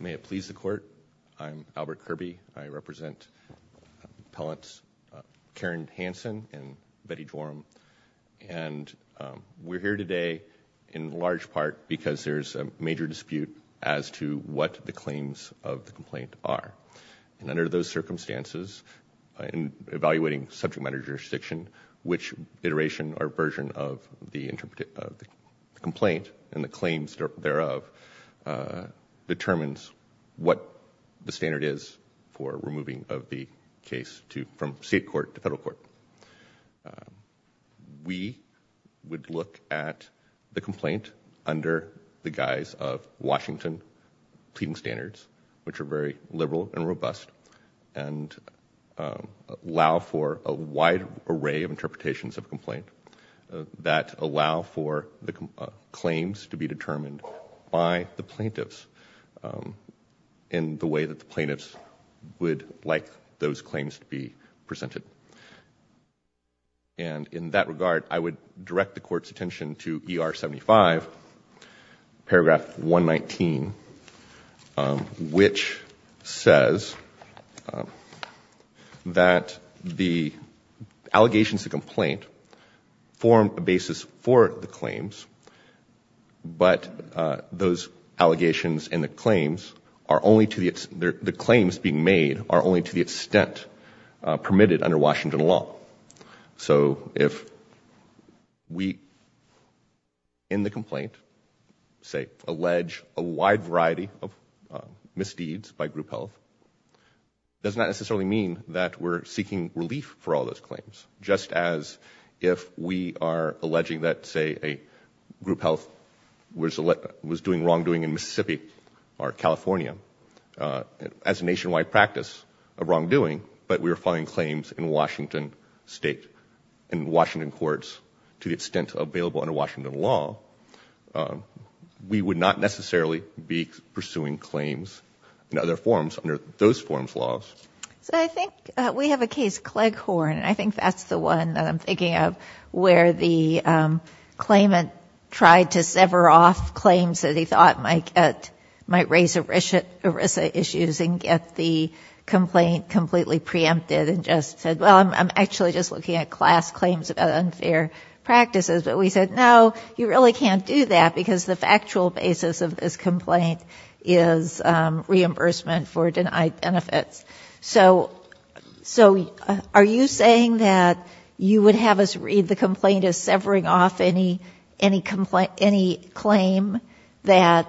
May it please the court. I'm Albert Kirby. I represent appellants Karen Hansen and Betty Joram, and we're here today in large part because there's a major dispute as to what the claims of the complaint are, and under those circumstances, in evaluating subject matter jurisdiction, which iteration or claims thereof, determines what the standard is for removing of the case to from state court to federal court. We would look at the complaint under the guise of Washington pleading standards, which are very liberal and robust, and allow for a wide array of interpretations of complaint that allow for the claims to be determined by the plaintiffs in the way that the plaintiffs would like those claims to be presented. And in that regard, I would direct the court's attention to ER 75 paragraph 119, which says that the claims are only to the extent permitted under Washington law. So if we, in the complaint, say, allege a wide variety of misdeeds by group health, does not necessarily mean that we're seeking relief for all those claims, just as if we are alleging that, say, a group health was doing wrongdoing in Mississippi or California as a nationwide practice of wrongdoing, but we were filing claims in Washington state and Washington courts to the extent available under Washington law, we would not necessarily be pursuing claims in other forms under those forms laws. So I think we have a case, Cleghorn, and I think that's the one that I'm thinking of where the claimant tried to sever off claims that he thought might raise ERISA issues and get the complaint completely preempted and just said, well, I'm actually just looking at class claims about unfair practices. But we said, no, you really can't do that because the factual basis of this complaint is reimbursement for denied benefits. So are you saying that you would have us read the complaint as severing off any claim that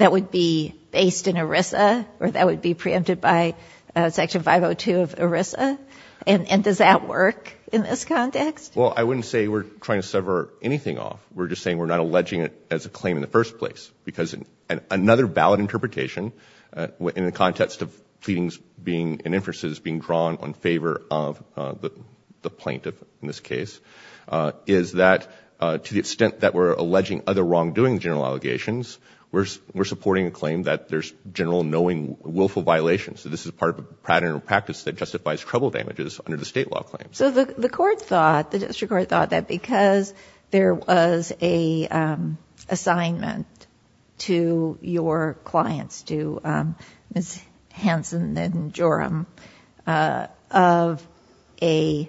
would be based in ERISA or that would be preempted by Section 502 of ERISA? And does that work in this context? Well, I wouldn't say we're trying to sever anything off. We're just saying we're not alleging it as a claim in the first place because another valid interpretation in the context of pleadings and inferences being drawn in favor of the plaintiff in this case is that to the extent that we're alleging other wrongdoing general allegations, we're supporting a claim that there's general knowing willful violations. So this is part of a pattern or practice that justifies trouble damages under the state law claims. So the court thought, the district court thought that because there was an assignment to your clients, to Ms. Hanson and Joram, of a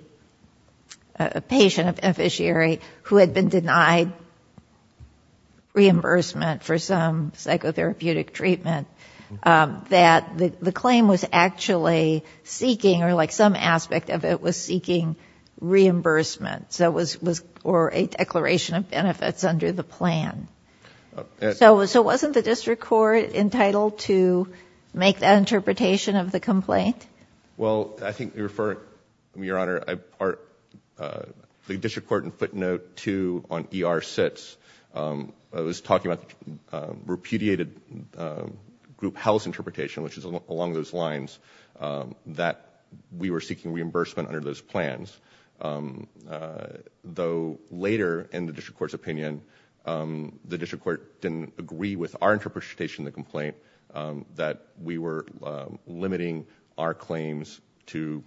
patient, an officiary, who had been denied reimbursement for some psychotherapeutic treatment, that the claim was actually seeking, or like some aspect of it was seeking reimbursement, or a declaration of benefits under the plan. So wasn't the district court entitled to make that interpretation of the complaint? Well, I think you're referring, Your Honor, the district court in footnote 2 on ER 6 was talking about repudiated group house interpretation, which is along those plans, though later in the district court's opinion, the district court didn't agree with our interpretation of the complaint, that we were limiting our claims to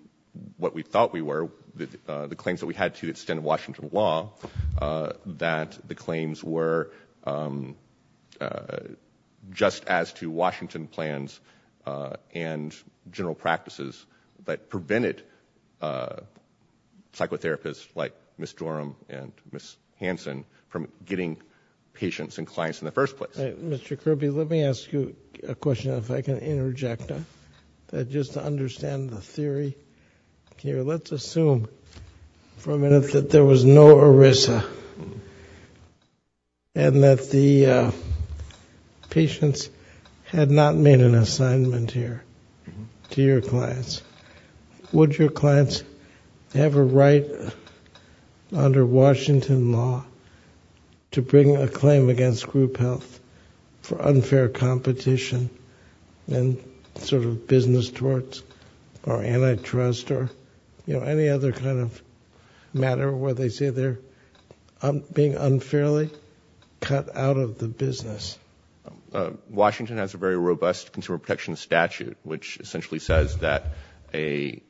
what we thought we were, the claims that we had to extend Washington law, that the claims were just as to Washington plans and general practices that prevented psychotherapists like Ms. Joram and Ms. Hanson from getting patients and clients in the first place. Mr. Kirby, let me ask you a question, if I can interject, just to understand the theory here. Let's assume for a minute that there was no ERISA, and that the patients had not made an assignment here to your clients. Would your clients have a right under Washington law to bring a claim against group health for unfair competition and sort of business torts or antitrust or any other kind of matter where they say they're being unfairly cut out of the business? Washington has a very robust consumer protection statute, which essentially says that any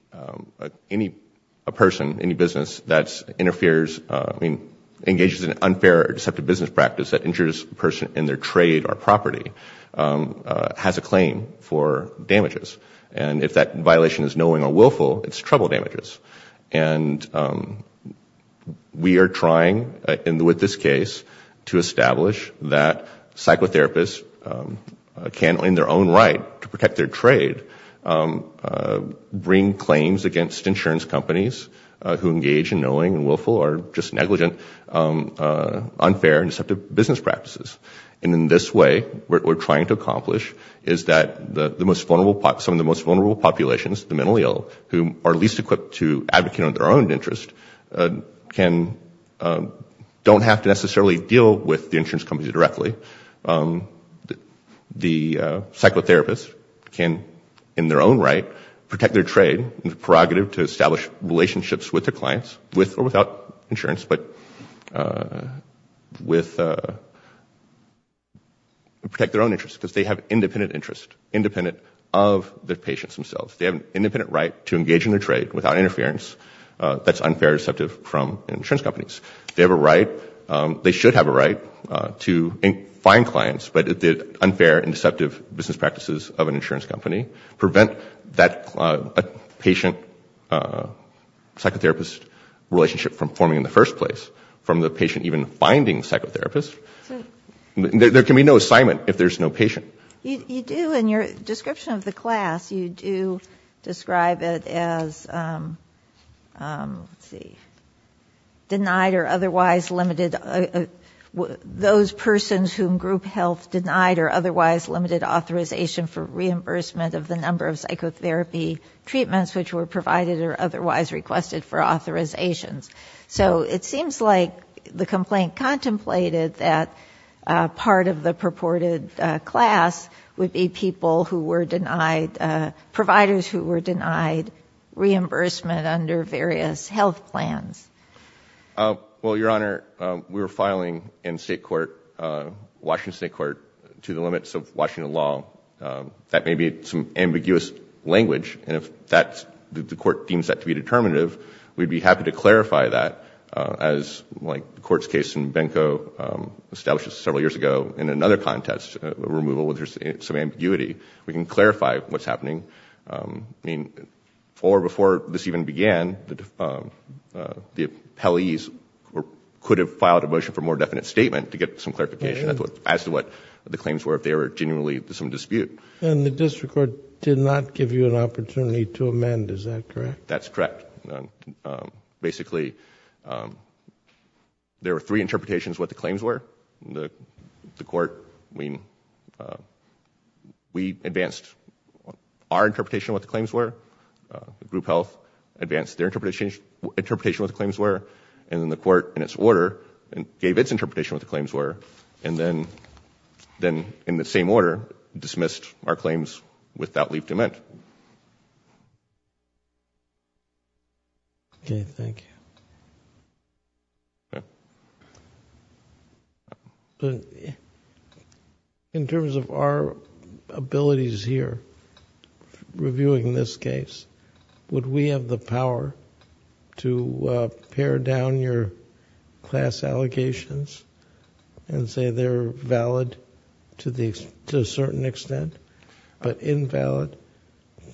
person, any business that interferes, I mean, engages in unfair or deceptive business practice that injures a person in their trade or property has a claim for damages. And if that violation is knowing or willful, it's trouble damages. And we are trying, with this case, to establish that psychotherapists can, in their own right to protect their trade, bring claims against insurance companies who engage in knowing and willful or just negligent, unfair and deceptive business practices. And in this way, what we're trying to accomplish is that some of the most vulnerable populations, the mentally ill, who are least equipped to advocate on their own interest, don't have to necessarily deal with the insurance companies directly. The psychotherapists can, in their own right, protect their trade in the prerogative to establish relationships with their clients, with or without insurance, but protect their own interests because they have independent interest, independent of the patients themselves. They have an independent right to engage in a trade without interference that's unfair or deceptive from insurance companies. They have a right, they should have a right to find clients, but the unfair and deceptive business practices of an insurance company prevent that patient psychotherapist relationship from forming in the first place, from the patient even finding a psychotherapist. There can be no assignment if there's no patient. You do in your description of the class, you do describe it as, let's see, denied or otherwise limited, those persons whom group health denied or otherwise limited authorization for reimbursement of the number of psychotherapy treatments which were provided or otherwise requested for authorizations. So it seems like the class would be people who were denied, providers who were denied reimbursement under various health plans. Well, Your Honor, we were filing in state court, Washington State Court, to the limits of Washington law. That may be some ambiguous language, and if the court deems that to be determinative, we'd be happy to clarify that as, like the court's case in Benko, established several years ago, in another context, removal with some ambiguity, we can clarify what's happening. Or before this even began, the appellees could have filed a motion for more definite statement to get some clarification as to what the claims were, if they were genuinely some dispute. And the district court did not give you an opportunity to amend, is that correct? That's correct. Basically, there were three interpretations of what the claims were. The court, we advanced our interpretation of what the claims were, group health advanced their interpretation of what the claims were, and then the court, in its order, gave its interpretation of what the claims were, and then in the same order, dismissed our claims without leave to amend. Okay. Thank you. In terms of our abilities here, reviewing this case, would we have the power to pare down your class allegations and say they're valid to a certain extent, but invalid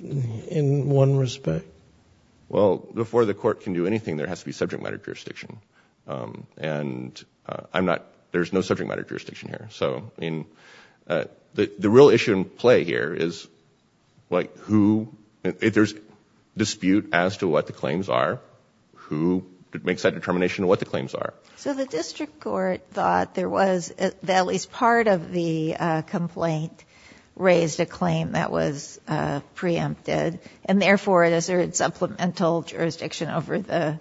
in one respect? Well, before the court can do anything, there has to be subject matter jurisdiction, and I'm not, there's no subject matter jurisdiction here. So, I mean, the real issue in play here is, like, who, if there's dispute as to what the claims are, who makes that determination of what the claims are? So the district court thought there was, at least part of the complaint raised a subject matter jurisdiction, but could assert supplemental jurisdiction over the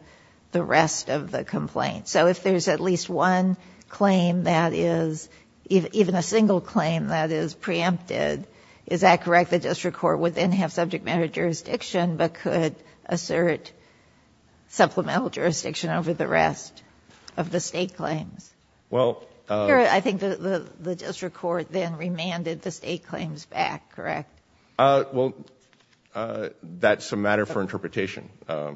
rest of the complaint. So if there's at least one claim that is, even a single claim that is preempted, is that correct? The district court would then have subject matter jurisdiction, but could assert supplemental jurisdiction over the rest of the state claims? Well, that's a matter for interpretation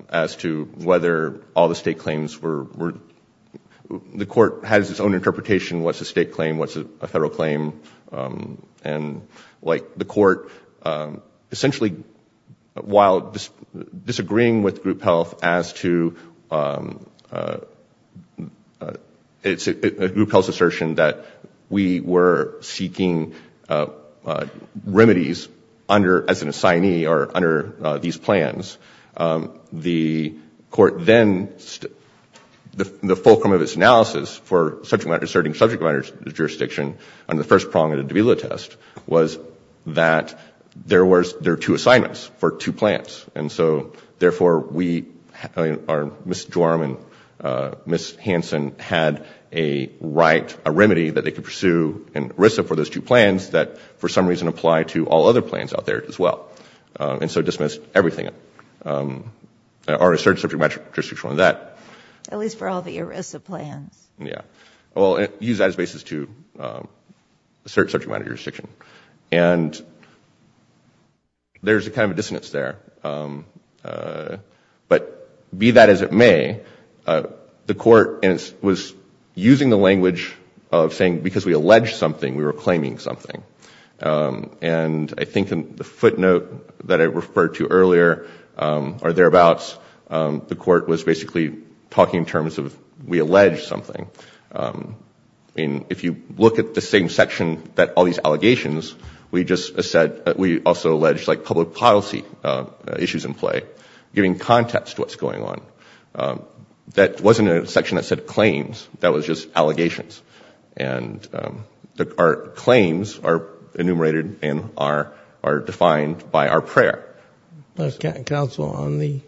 as to whether all the state claims were, the court has its own interpretation, what's a state claim, what's a federal claim, and like the court, essentially, while disagreeing with group health as to, it's a group health assertion that we were seeking remedies under, as an assignee, or under these plans, the court then, the fulcrum of its analysis for subject matter, asserting subject matter jurisdiction under the first prong of the Davila test was that there were, there were two assignments for two plans. And so therefore we, Ms. Jorm and Ms. Hansen had a right, a remedy that they could pursue in ERISA for those two plans that, for some reason, apply to all other plans out there as well. And so dismissed everything, or assert subject matter jurisdiction on that. At least for all the ERISA plans. Yeah. Well, use that as basis to assert subject matter jurisdiction. And there's a kind of dissonance there. But be that as it may, the court was using the language of saying, because we alleged something, we were claiming something. And I think in the footnote that I referred to earlier, or thereabouts, the court was basically talking in terms of, we alleged something. And if you look at the same section that all these allegations, we just said, we also alleged like public policy issues in play, giving context to what's going on. That wasn't a section that said claims, that was just allegations. And our claims are enumerated and are, are defined by our prayer. Counsel, on the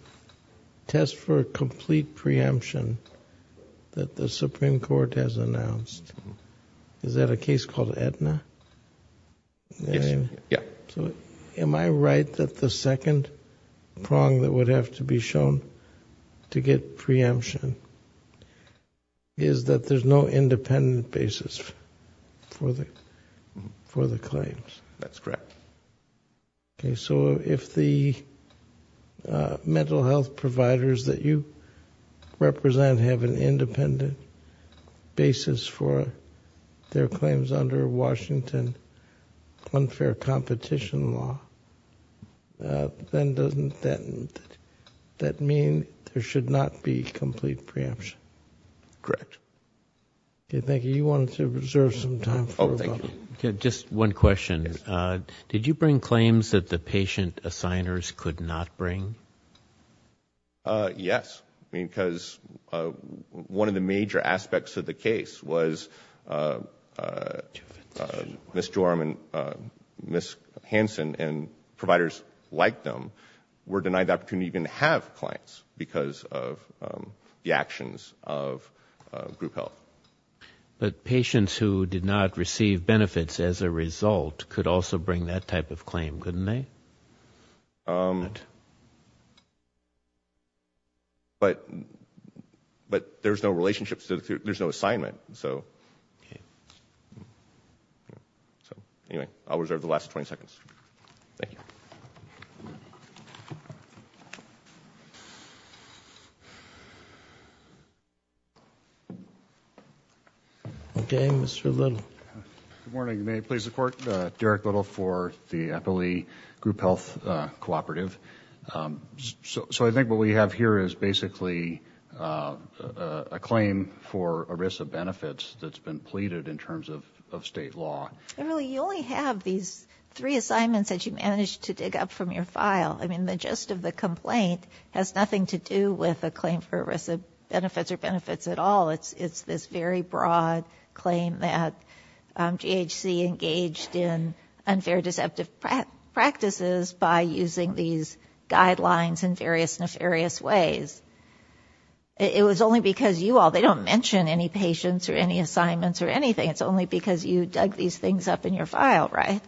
test for complete preemption that the Supreme Court has announced, is that a case called Aetna? Yeah. So am I right that the second prong that would have to be shown to get preemption is that there's no independent basis for the, for the claims? That's correct. Okay. So if the mental health providers that you represent have an independent basis for their claims under Washington unfair competition law, then doesn't that, that mean there should not be complete preemption? Correct. Okay. Thank you. You wanted to reserve some time. Okay. Just one question. Did you bring claims that the patient assigners could not bring? Yes. I mean, because one of the major aspects of the case was Ms. Joram and Ms. Hansen and providers like them were denied the opportunity to even have clients because of the actions of group health. But patients who did not receive benefits as a result could also bring that type of claim, couldn't they? But, but there's no relationship, there's no assignment. So, so anyway, I'll reserve the last 20 seconds. Thank you. Okay. Mr. Little. Good morning. May it please the court, Derek Little for the Eppley Group Health Cooperative. So, so I think what we have here is basically a claim for ERISA benefits that's been pleaded in terms of, of state law. And really you only have these three assignments that you managed to dig up from your file. I mean, the gist of the complaint has nothing to do with a claim for ERISA benefits or benefits at all. It's, it's this very broad claim that GHC engaged in unfair deceptive practices by using these guidelines in various nefarious ways. It was only because you all, they don't mention any patients or any assignments or anything. It's only because you dug these things up in your file, right?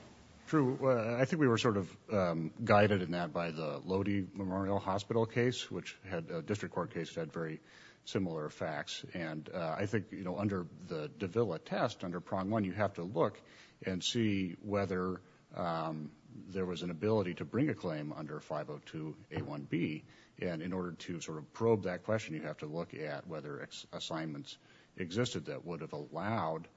True. I think we were sort of guided in that by the Lodi Memorial Hospital case, which had district court case had very similar facts. And I think, you know, under the Davila test under prong one, you have to look and see whether there was an ability to bring a claim under 502 A1B. And in order to sort of probe that question, you have to look at whether assignments existed that would have allowed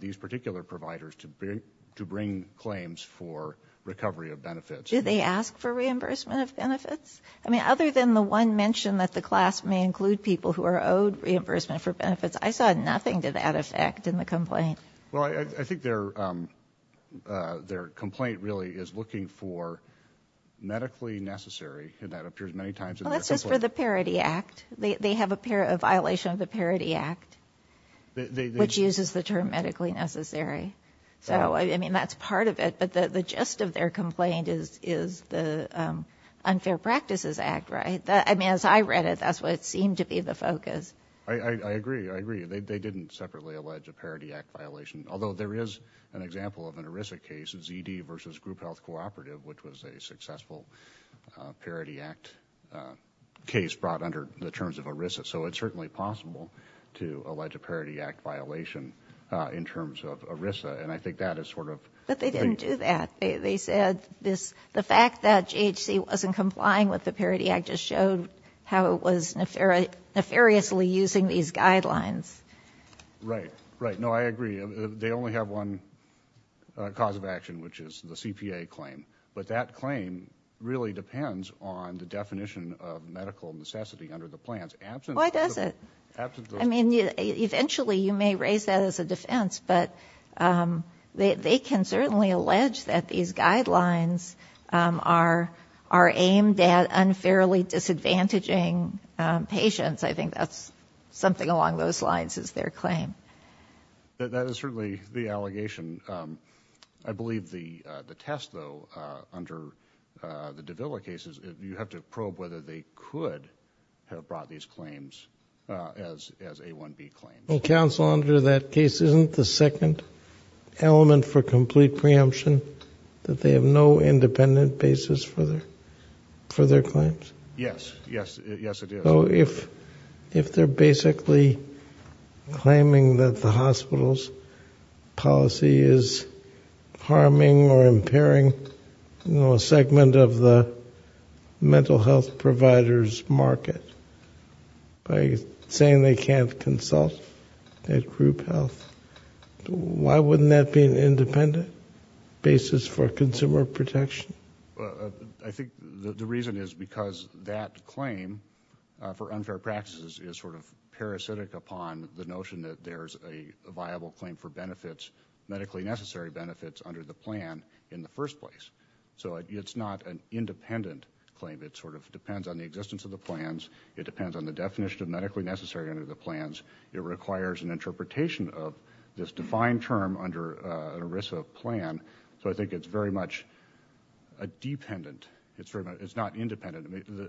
these particular providers to bring claims for recovery of benefits. Do they ask for reimbursement of benefits? I mean, other than the one mentioned that the class may include people who are owed reimbursement for benefits. I saw nothing to that effect in the complaint. Well, I think their, their complaint really is looking for medically necessary. And that appears many times. Well, that's just for the Parity Act. They have a pair of violation of the Parity Act, which uses the term medically necessary. So, I mean, that's part of it. But the gist of their complaint is, is the Unfair Practices Act, right? That, I mean, as I read it, that's what seemed to be the focus. I agree. I agree. They didn't separately allege a Parity Act violation, although there is an example of an ERISA case, ZD versus Group Health Cooperative, which was a successful Parity Act case brought under the terms of ERISA. So it's certainly possible to allege a Parity Act violation in terms of ERISA. And I think that is sort of. But they didn't do that. They said this, the fact that GHC wasn't complying with the Parity Act just showed how it was nefariously using these guidelines. Right. Right. No, I agree. They only have one cause of action, which is the CPA claim. But that claim really depends on the definition of medical necessity under the plans. Why does it? I mean, eventually you may raise that as a defense, but they can certainly allege that these guidelines are are aimed at unfairly disadvantaging patients. I think that's something along those lines is their claim. That is certainly the allegation. I believe the the test, though, under the Davila cases, you have to probe whether they could have brought these claims as as A1B claims. Well, counsel, under that case, isn't the second element for complete preemption that they have no independent basis for their for their claims? Yes. Yes. Yes, it is. So if if they're basically claiming that the hospital's policy is harming or providers market by saying they can't consult at group health, why wouldn't that be an independent basis for consumer protection? I think the reason is because that claim for unfair practices is sort of parasitic upon the notion that there's a viable claim for benefits, medically necessary benefits under the plan in the first place. So it's not an independent claim. It sort of depends on the existence of the plans. It depends on the definition of medically necessary under the plans. It requires an interpretation of this defined term under an ERISA plan. So I think it's very much a dependent. It's not independent.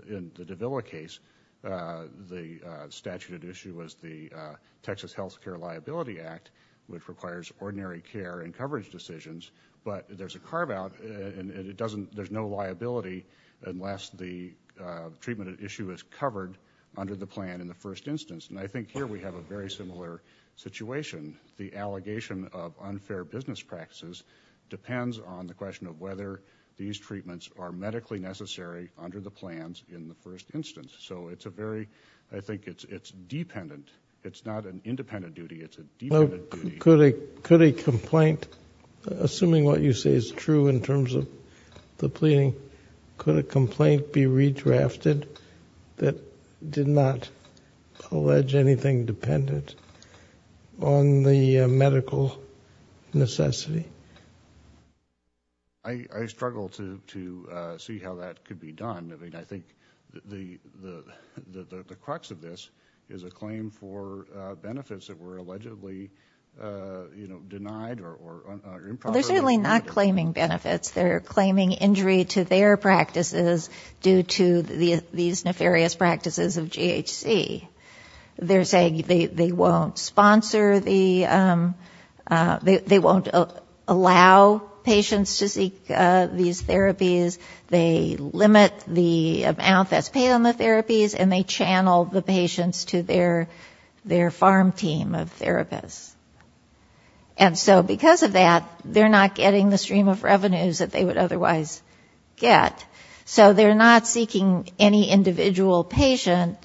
In the Davila case, the statute at issue was the Texas Health Care Liability Act, which requires ordinary care and coverage decisions. But there's a carve out and it doesn't, there's no liability unless the treatment at issue is covered under the plan in the first instance. And I think here we have a very similar situation. The allegation of unfair business practices depends on the question of whether these treatments are medically necessary under the plans in the first instance. So it's a very, I think it's, it's dependent. It's not an independent duty. It's a dependent duty. Could a complaint, assuming what you say is true in terms of the pleading, could a complaint be redrafted that did not allege anything dependent on the medical necessity? I struggle to see how that could be done. I mean, I think the crux of this is a claim for benefits that were allegedly, you know, denied or improperly. They're certainly not claiming benefits. They're claiming injury to their practices due to these nefarious practices of GHC. They're saying they won't sponsor the, they won't allow patients to seek these therapies. They limit the amount that's paid on the therapies and they channel the patients to their, their farm team of therapists. And so because of that, they're not getting the stream of revenues that they would otherwise get. So they're not seeking any individual patient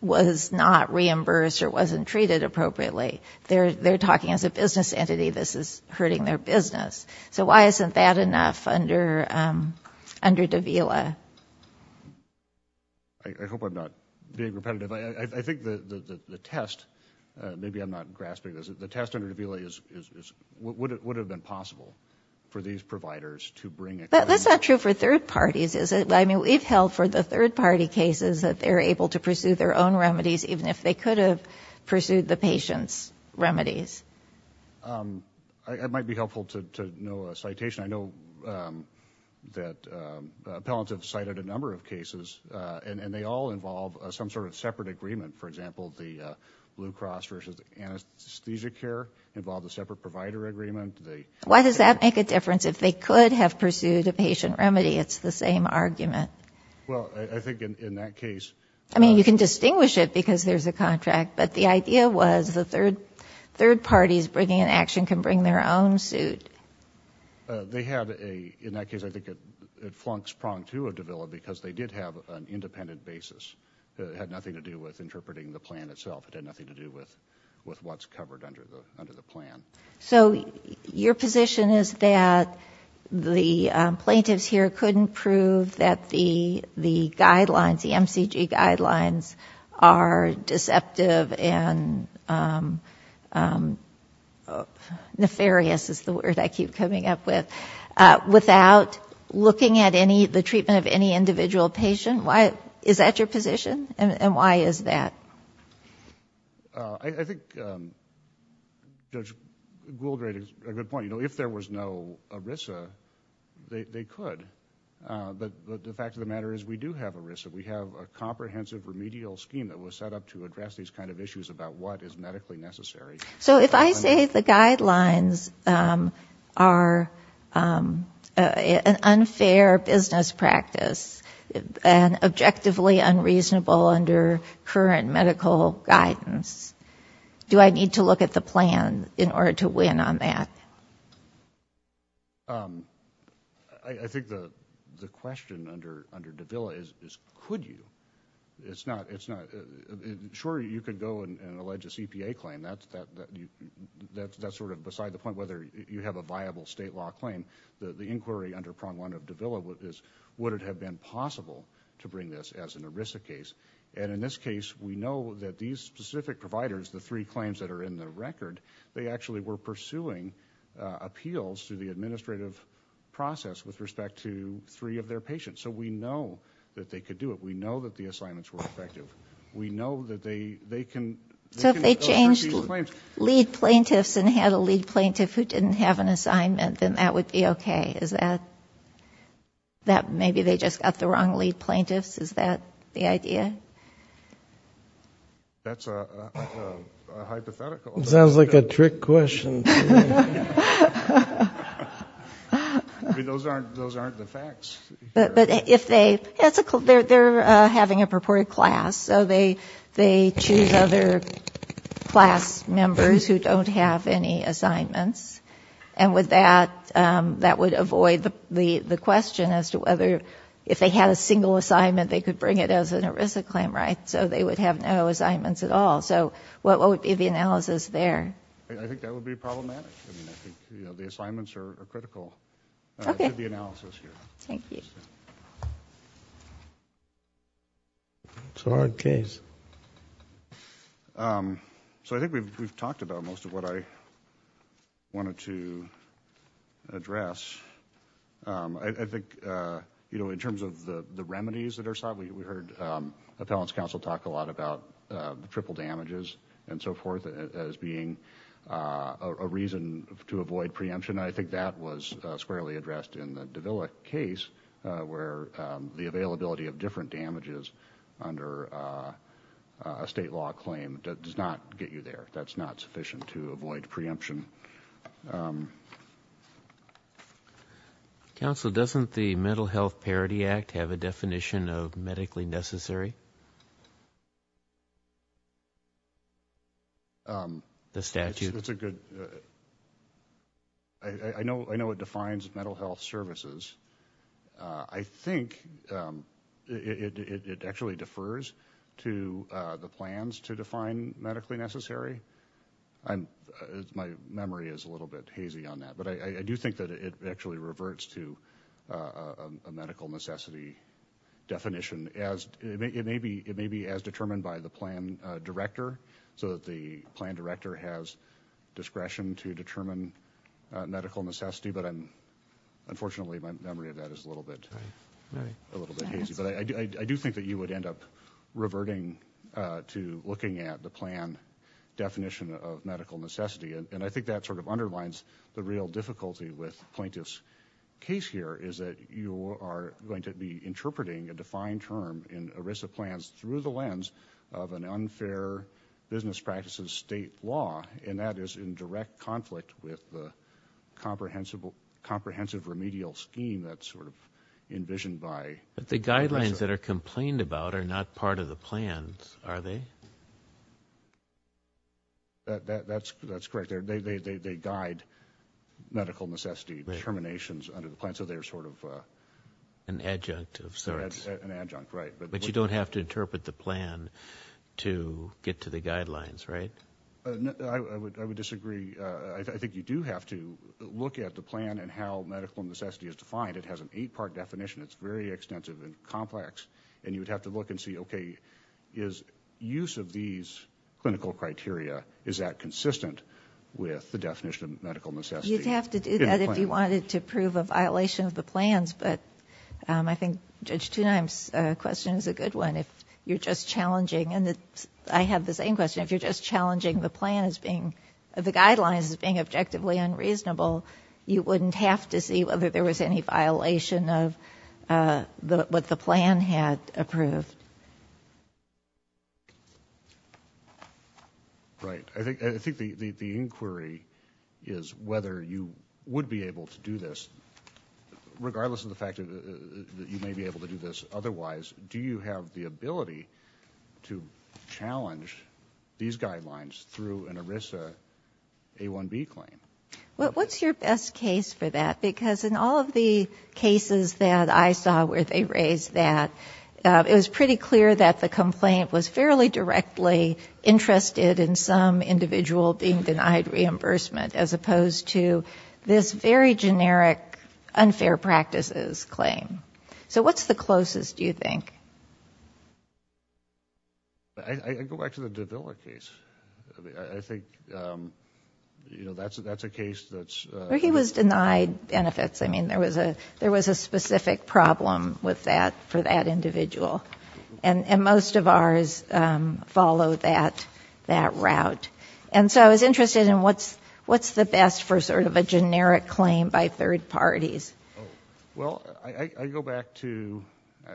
was not reimbursed or wasn't treated appropriately. They're, they're talking as a business entity, this is hurting their business. So why isn't that enough under, under Davila? I hope I'm not being repetitive. I think the test, maybe I'm not grasping this, the test under Davila is, is, is, would it, would it have been possible for these providers to bring a claim? But that's not true for third parties, is it? I mean, we've held for the third party cases that they're able to pursue their own remedies, even if they could have pursued the patient's remedies. It might be helpful to know a citation. I know that appellants have cited a number of cases and they all involve some sort of separate agreement. For example, the Blue Cross versus anesthesia care involved a separate provider agreement. Why does that make a difference? If they could have pursued a patient remedy, it's the same argument. Well, I think in that case, I mean, you can distinguish it because there's a contract, but the idea was the third, third parties bringing an action can bring their own suit. They have a, in that case, I think it flunks prong to a Davila because they did have an action to do with interpreting the plan itself. It had nothing to do with, with what's covered under the, under the plan. So your position is that the plaintiffs here couldn't prove that the, the guidelines, the MCG guidelines are deceptive and nefarious is the word I keep coming up with, without looking at any of the treatment of any individual patient. Why is that your position? And why is that? I think, um, Judge Gouldrade is a good point. You know, if there was no ERISA, they could, but the fact of the matter is we do have ERISA. We have a comprehensive remedial scheme that was set up to address these kinds of issues about what is medically necessary. So if I say the guidelines, um, are, um, uh, an unfair business practice and objectively unreasonable under current medical guidance, do I need to look at the plan in order to win on that? Um, I think the, the question under, under Davila is, is could you, it's not, it's not sure you could go and allege a CPA claim. That's, that's sort of beside the point, whether you have a viable state law claim, the inquiry under prong one of Davila is would it have been possible to bring this as an ERISA case? And in this case, we know that these specific providers, the three claims that are in the record, they actually were pursuing, uh, appeals to the administrative process with respect to three of their patients. So we know that they could do it. We know that the assignments were effective. We know that they, they can change lead plaintiffs and had a lead plaintiff who didn't have an assignment, then that would be okay. Is that, that maybe they just got the wrong lead plaintiffs. Is that the idea? That's a hypothetical. It sounds like a trick question. Those aren't, those aren't the facts. But if they, that's a, they're, they're having a purported class. So they, they choose other class members who don't have any assignments. And with that, um, that would avoid the, the, the question as to whether if they had a single assignment, they could bring it as an ERISA claim, right? So they would have no assignments at all. So what, what would be the analysis there? I think that would be problematic. I mean, I think, you know, the assignments are critical to the analysis here. Thank you. It's a hard case. Um, so I think we've, we've talked about most of what I wanted to address. Um, I, I think, uh, you know, in terms of the, the remedies that are sought, we, we heard, um, appellants counsel talk a lot about, uh, the triple damages and so forth as being, uh, a reason to avoid preemption. And I think that was, uh, squarely addressed in the Davila case, uh, where, um, the availability of different damages under, uh, uh, a state law claim does not get you there. That's not sufficient to avoid preemption. Um, counsel, doesn't the mental health parody act have a definition of medically necessary? Um, the statute, it's a good, uh, I know, I know it defines mental health services. Uh, I think, um, it, it, it, it actually defers to, uh, the plans to define medically necessary. I'm my memory is a little bit hazy on that, but I, I do think that it actually reverts to, uh, a medical necessity definition as it may, it may be, it may be as determined by the plan director so that the plan director has discretion to medical necessity, but I'm unfortunately my memory of that is a little bit, a little bit hazy, but I do, I do think that you would end up reverting, uh, to looking at the plan definition of medical necessity. And I think that sort of underlines the real difficulty with plaintiff's case here is that you are going to be interpreting a defined term in ERISA plans through the lens of an unfair business practices, state law, and that is in direct conflict with the comprehensible comprehensive remedial scheme that's sort of envisioned by the guidelines that are complained about are not part of the plans, are they? That that's, that's correct. They're, they, they, they, they guide medical necessity terminations under the plan. So they're sort of, uh, an adjunct of sorts, an adjunct, right. But you don't have to interpret the plan to get to the guidelines, right? I would, I would disagree. Uh, I think you do have to look at the plan and how medical necessity is defined. It has an eight part definition. It's very extensive and complex. And you would have to look and see, okay. Is use of these clinical criteria, is that consistent with the definition of medical necessity? You'd have to do that if you wanted to prove a violation of the plans. But, um, I think Judge Tuneim's question is a good one. If you're just challenging and I have the same question. If you're just challenging the plan as being the guidelines as being objectively unreasonable, you wouldn't have to see whether there was any violation of, uh, the, what the plan had approved. Right. I think, I think the, the, the inquiry is whether you would be able to do this regardless of the fact that you may be able to do this otherwise, do you have the ability to challenge these guidelines through an ERISA A1B claim? Well, what's your best case for that? Because in all of the cases that I saw where they raised that, uh, it was pretty clear that the complaint was fairly directly interested in some individual being denied reimbursement as opposed to this very generic unfair practices claim. So what's the closest, do you think? I, I go back to the Davila case, I think, um, you know, that's a, that's a case that's, uh. Where he was denied benefits. I mean, there was a, there was a specific problem with that for that individual. And, and most of ours, um, follow that, that route. And so I was interested in what's, what's the best for sort of a generic claim by third parties? Well, I, I go back to,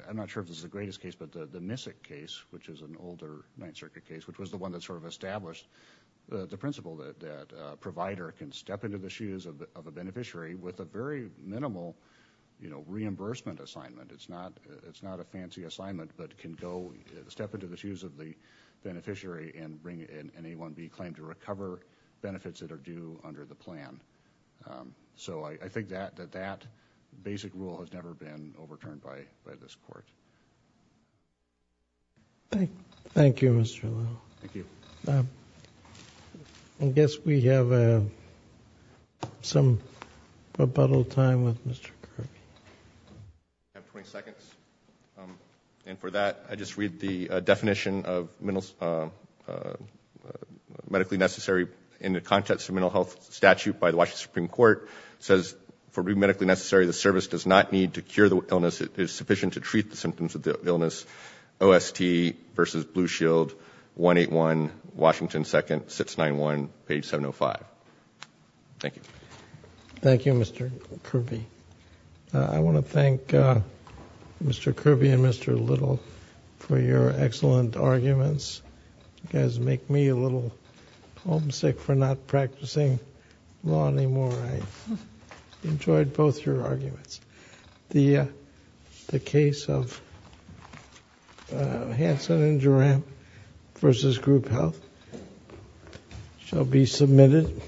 I'm not sure if this is the greatest case, but the, the Missick case, which is an older Ninth Circuit case, which was the one that sort of established the principle that, that a provider can step into the shoes of the, of a beneficiary with a very minimal, you know, reimbursement assignment. It's not, it's not a fancy assignment, but can go step into the shoes of the beneficiary and bring in an A1B claim to recover benefits that are due under the plan. Um, so I think that, that, that basic rule has never been overturned by, by this court. Thank, thank you, Mr. Little. I guess we have, uh, some rebuttal time with Mr. Kirby. I have 20 seconds. Um, and for that, I just read the definition of mental, uh, uh, medically necessary in the context of mental health statute by the Washington Supreme Court says for being medically necessary, the service does not need to cure the illness. It is sufficient to treat the symptoms of the illness. OST versus Blue Shield, 181, Washington 2nd, 691, page 705. Thank you. Thank you, Mr. Kirby. Uh, I want to thank, uh, Mr. Kirby and Mr. Little for your excellent arguments. You guys make me a little homesick for not practicing law anymore. I enjoyed both your arguments. The, uh, the case of, uh, Hansen and Geram versus group health shall be submitted.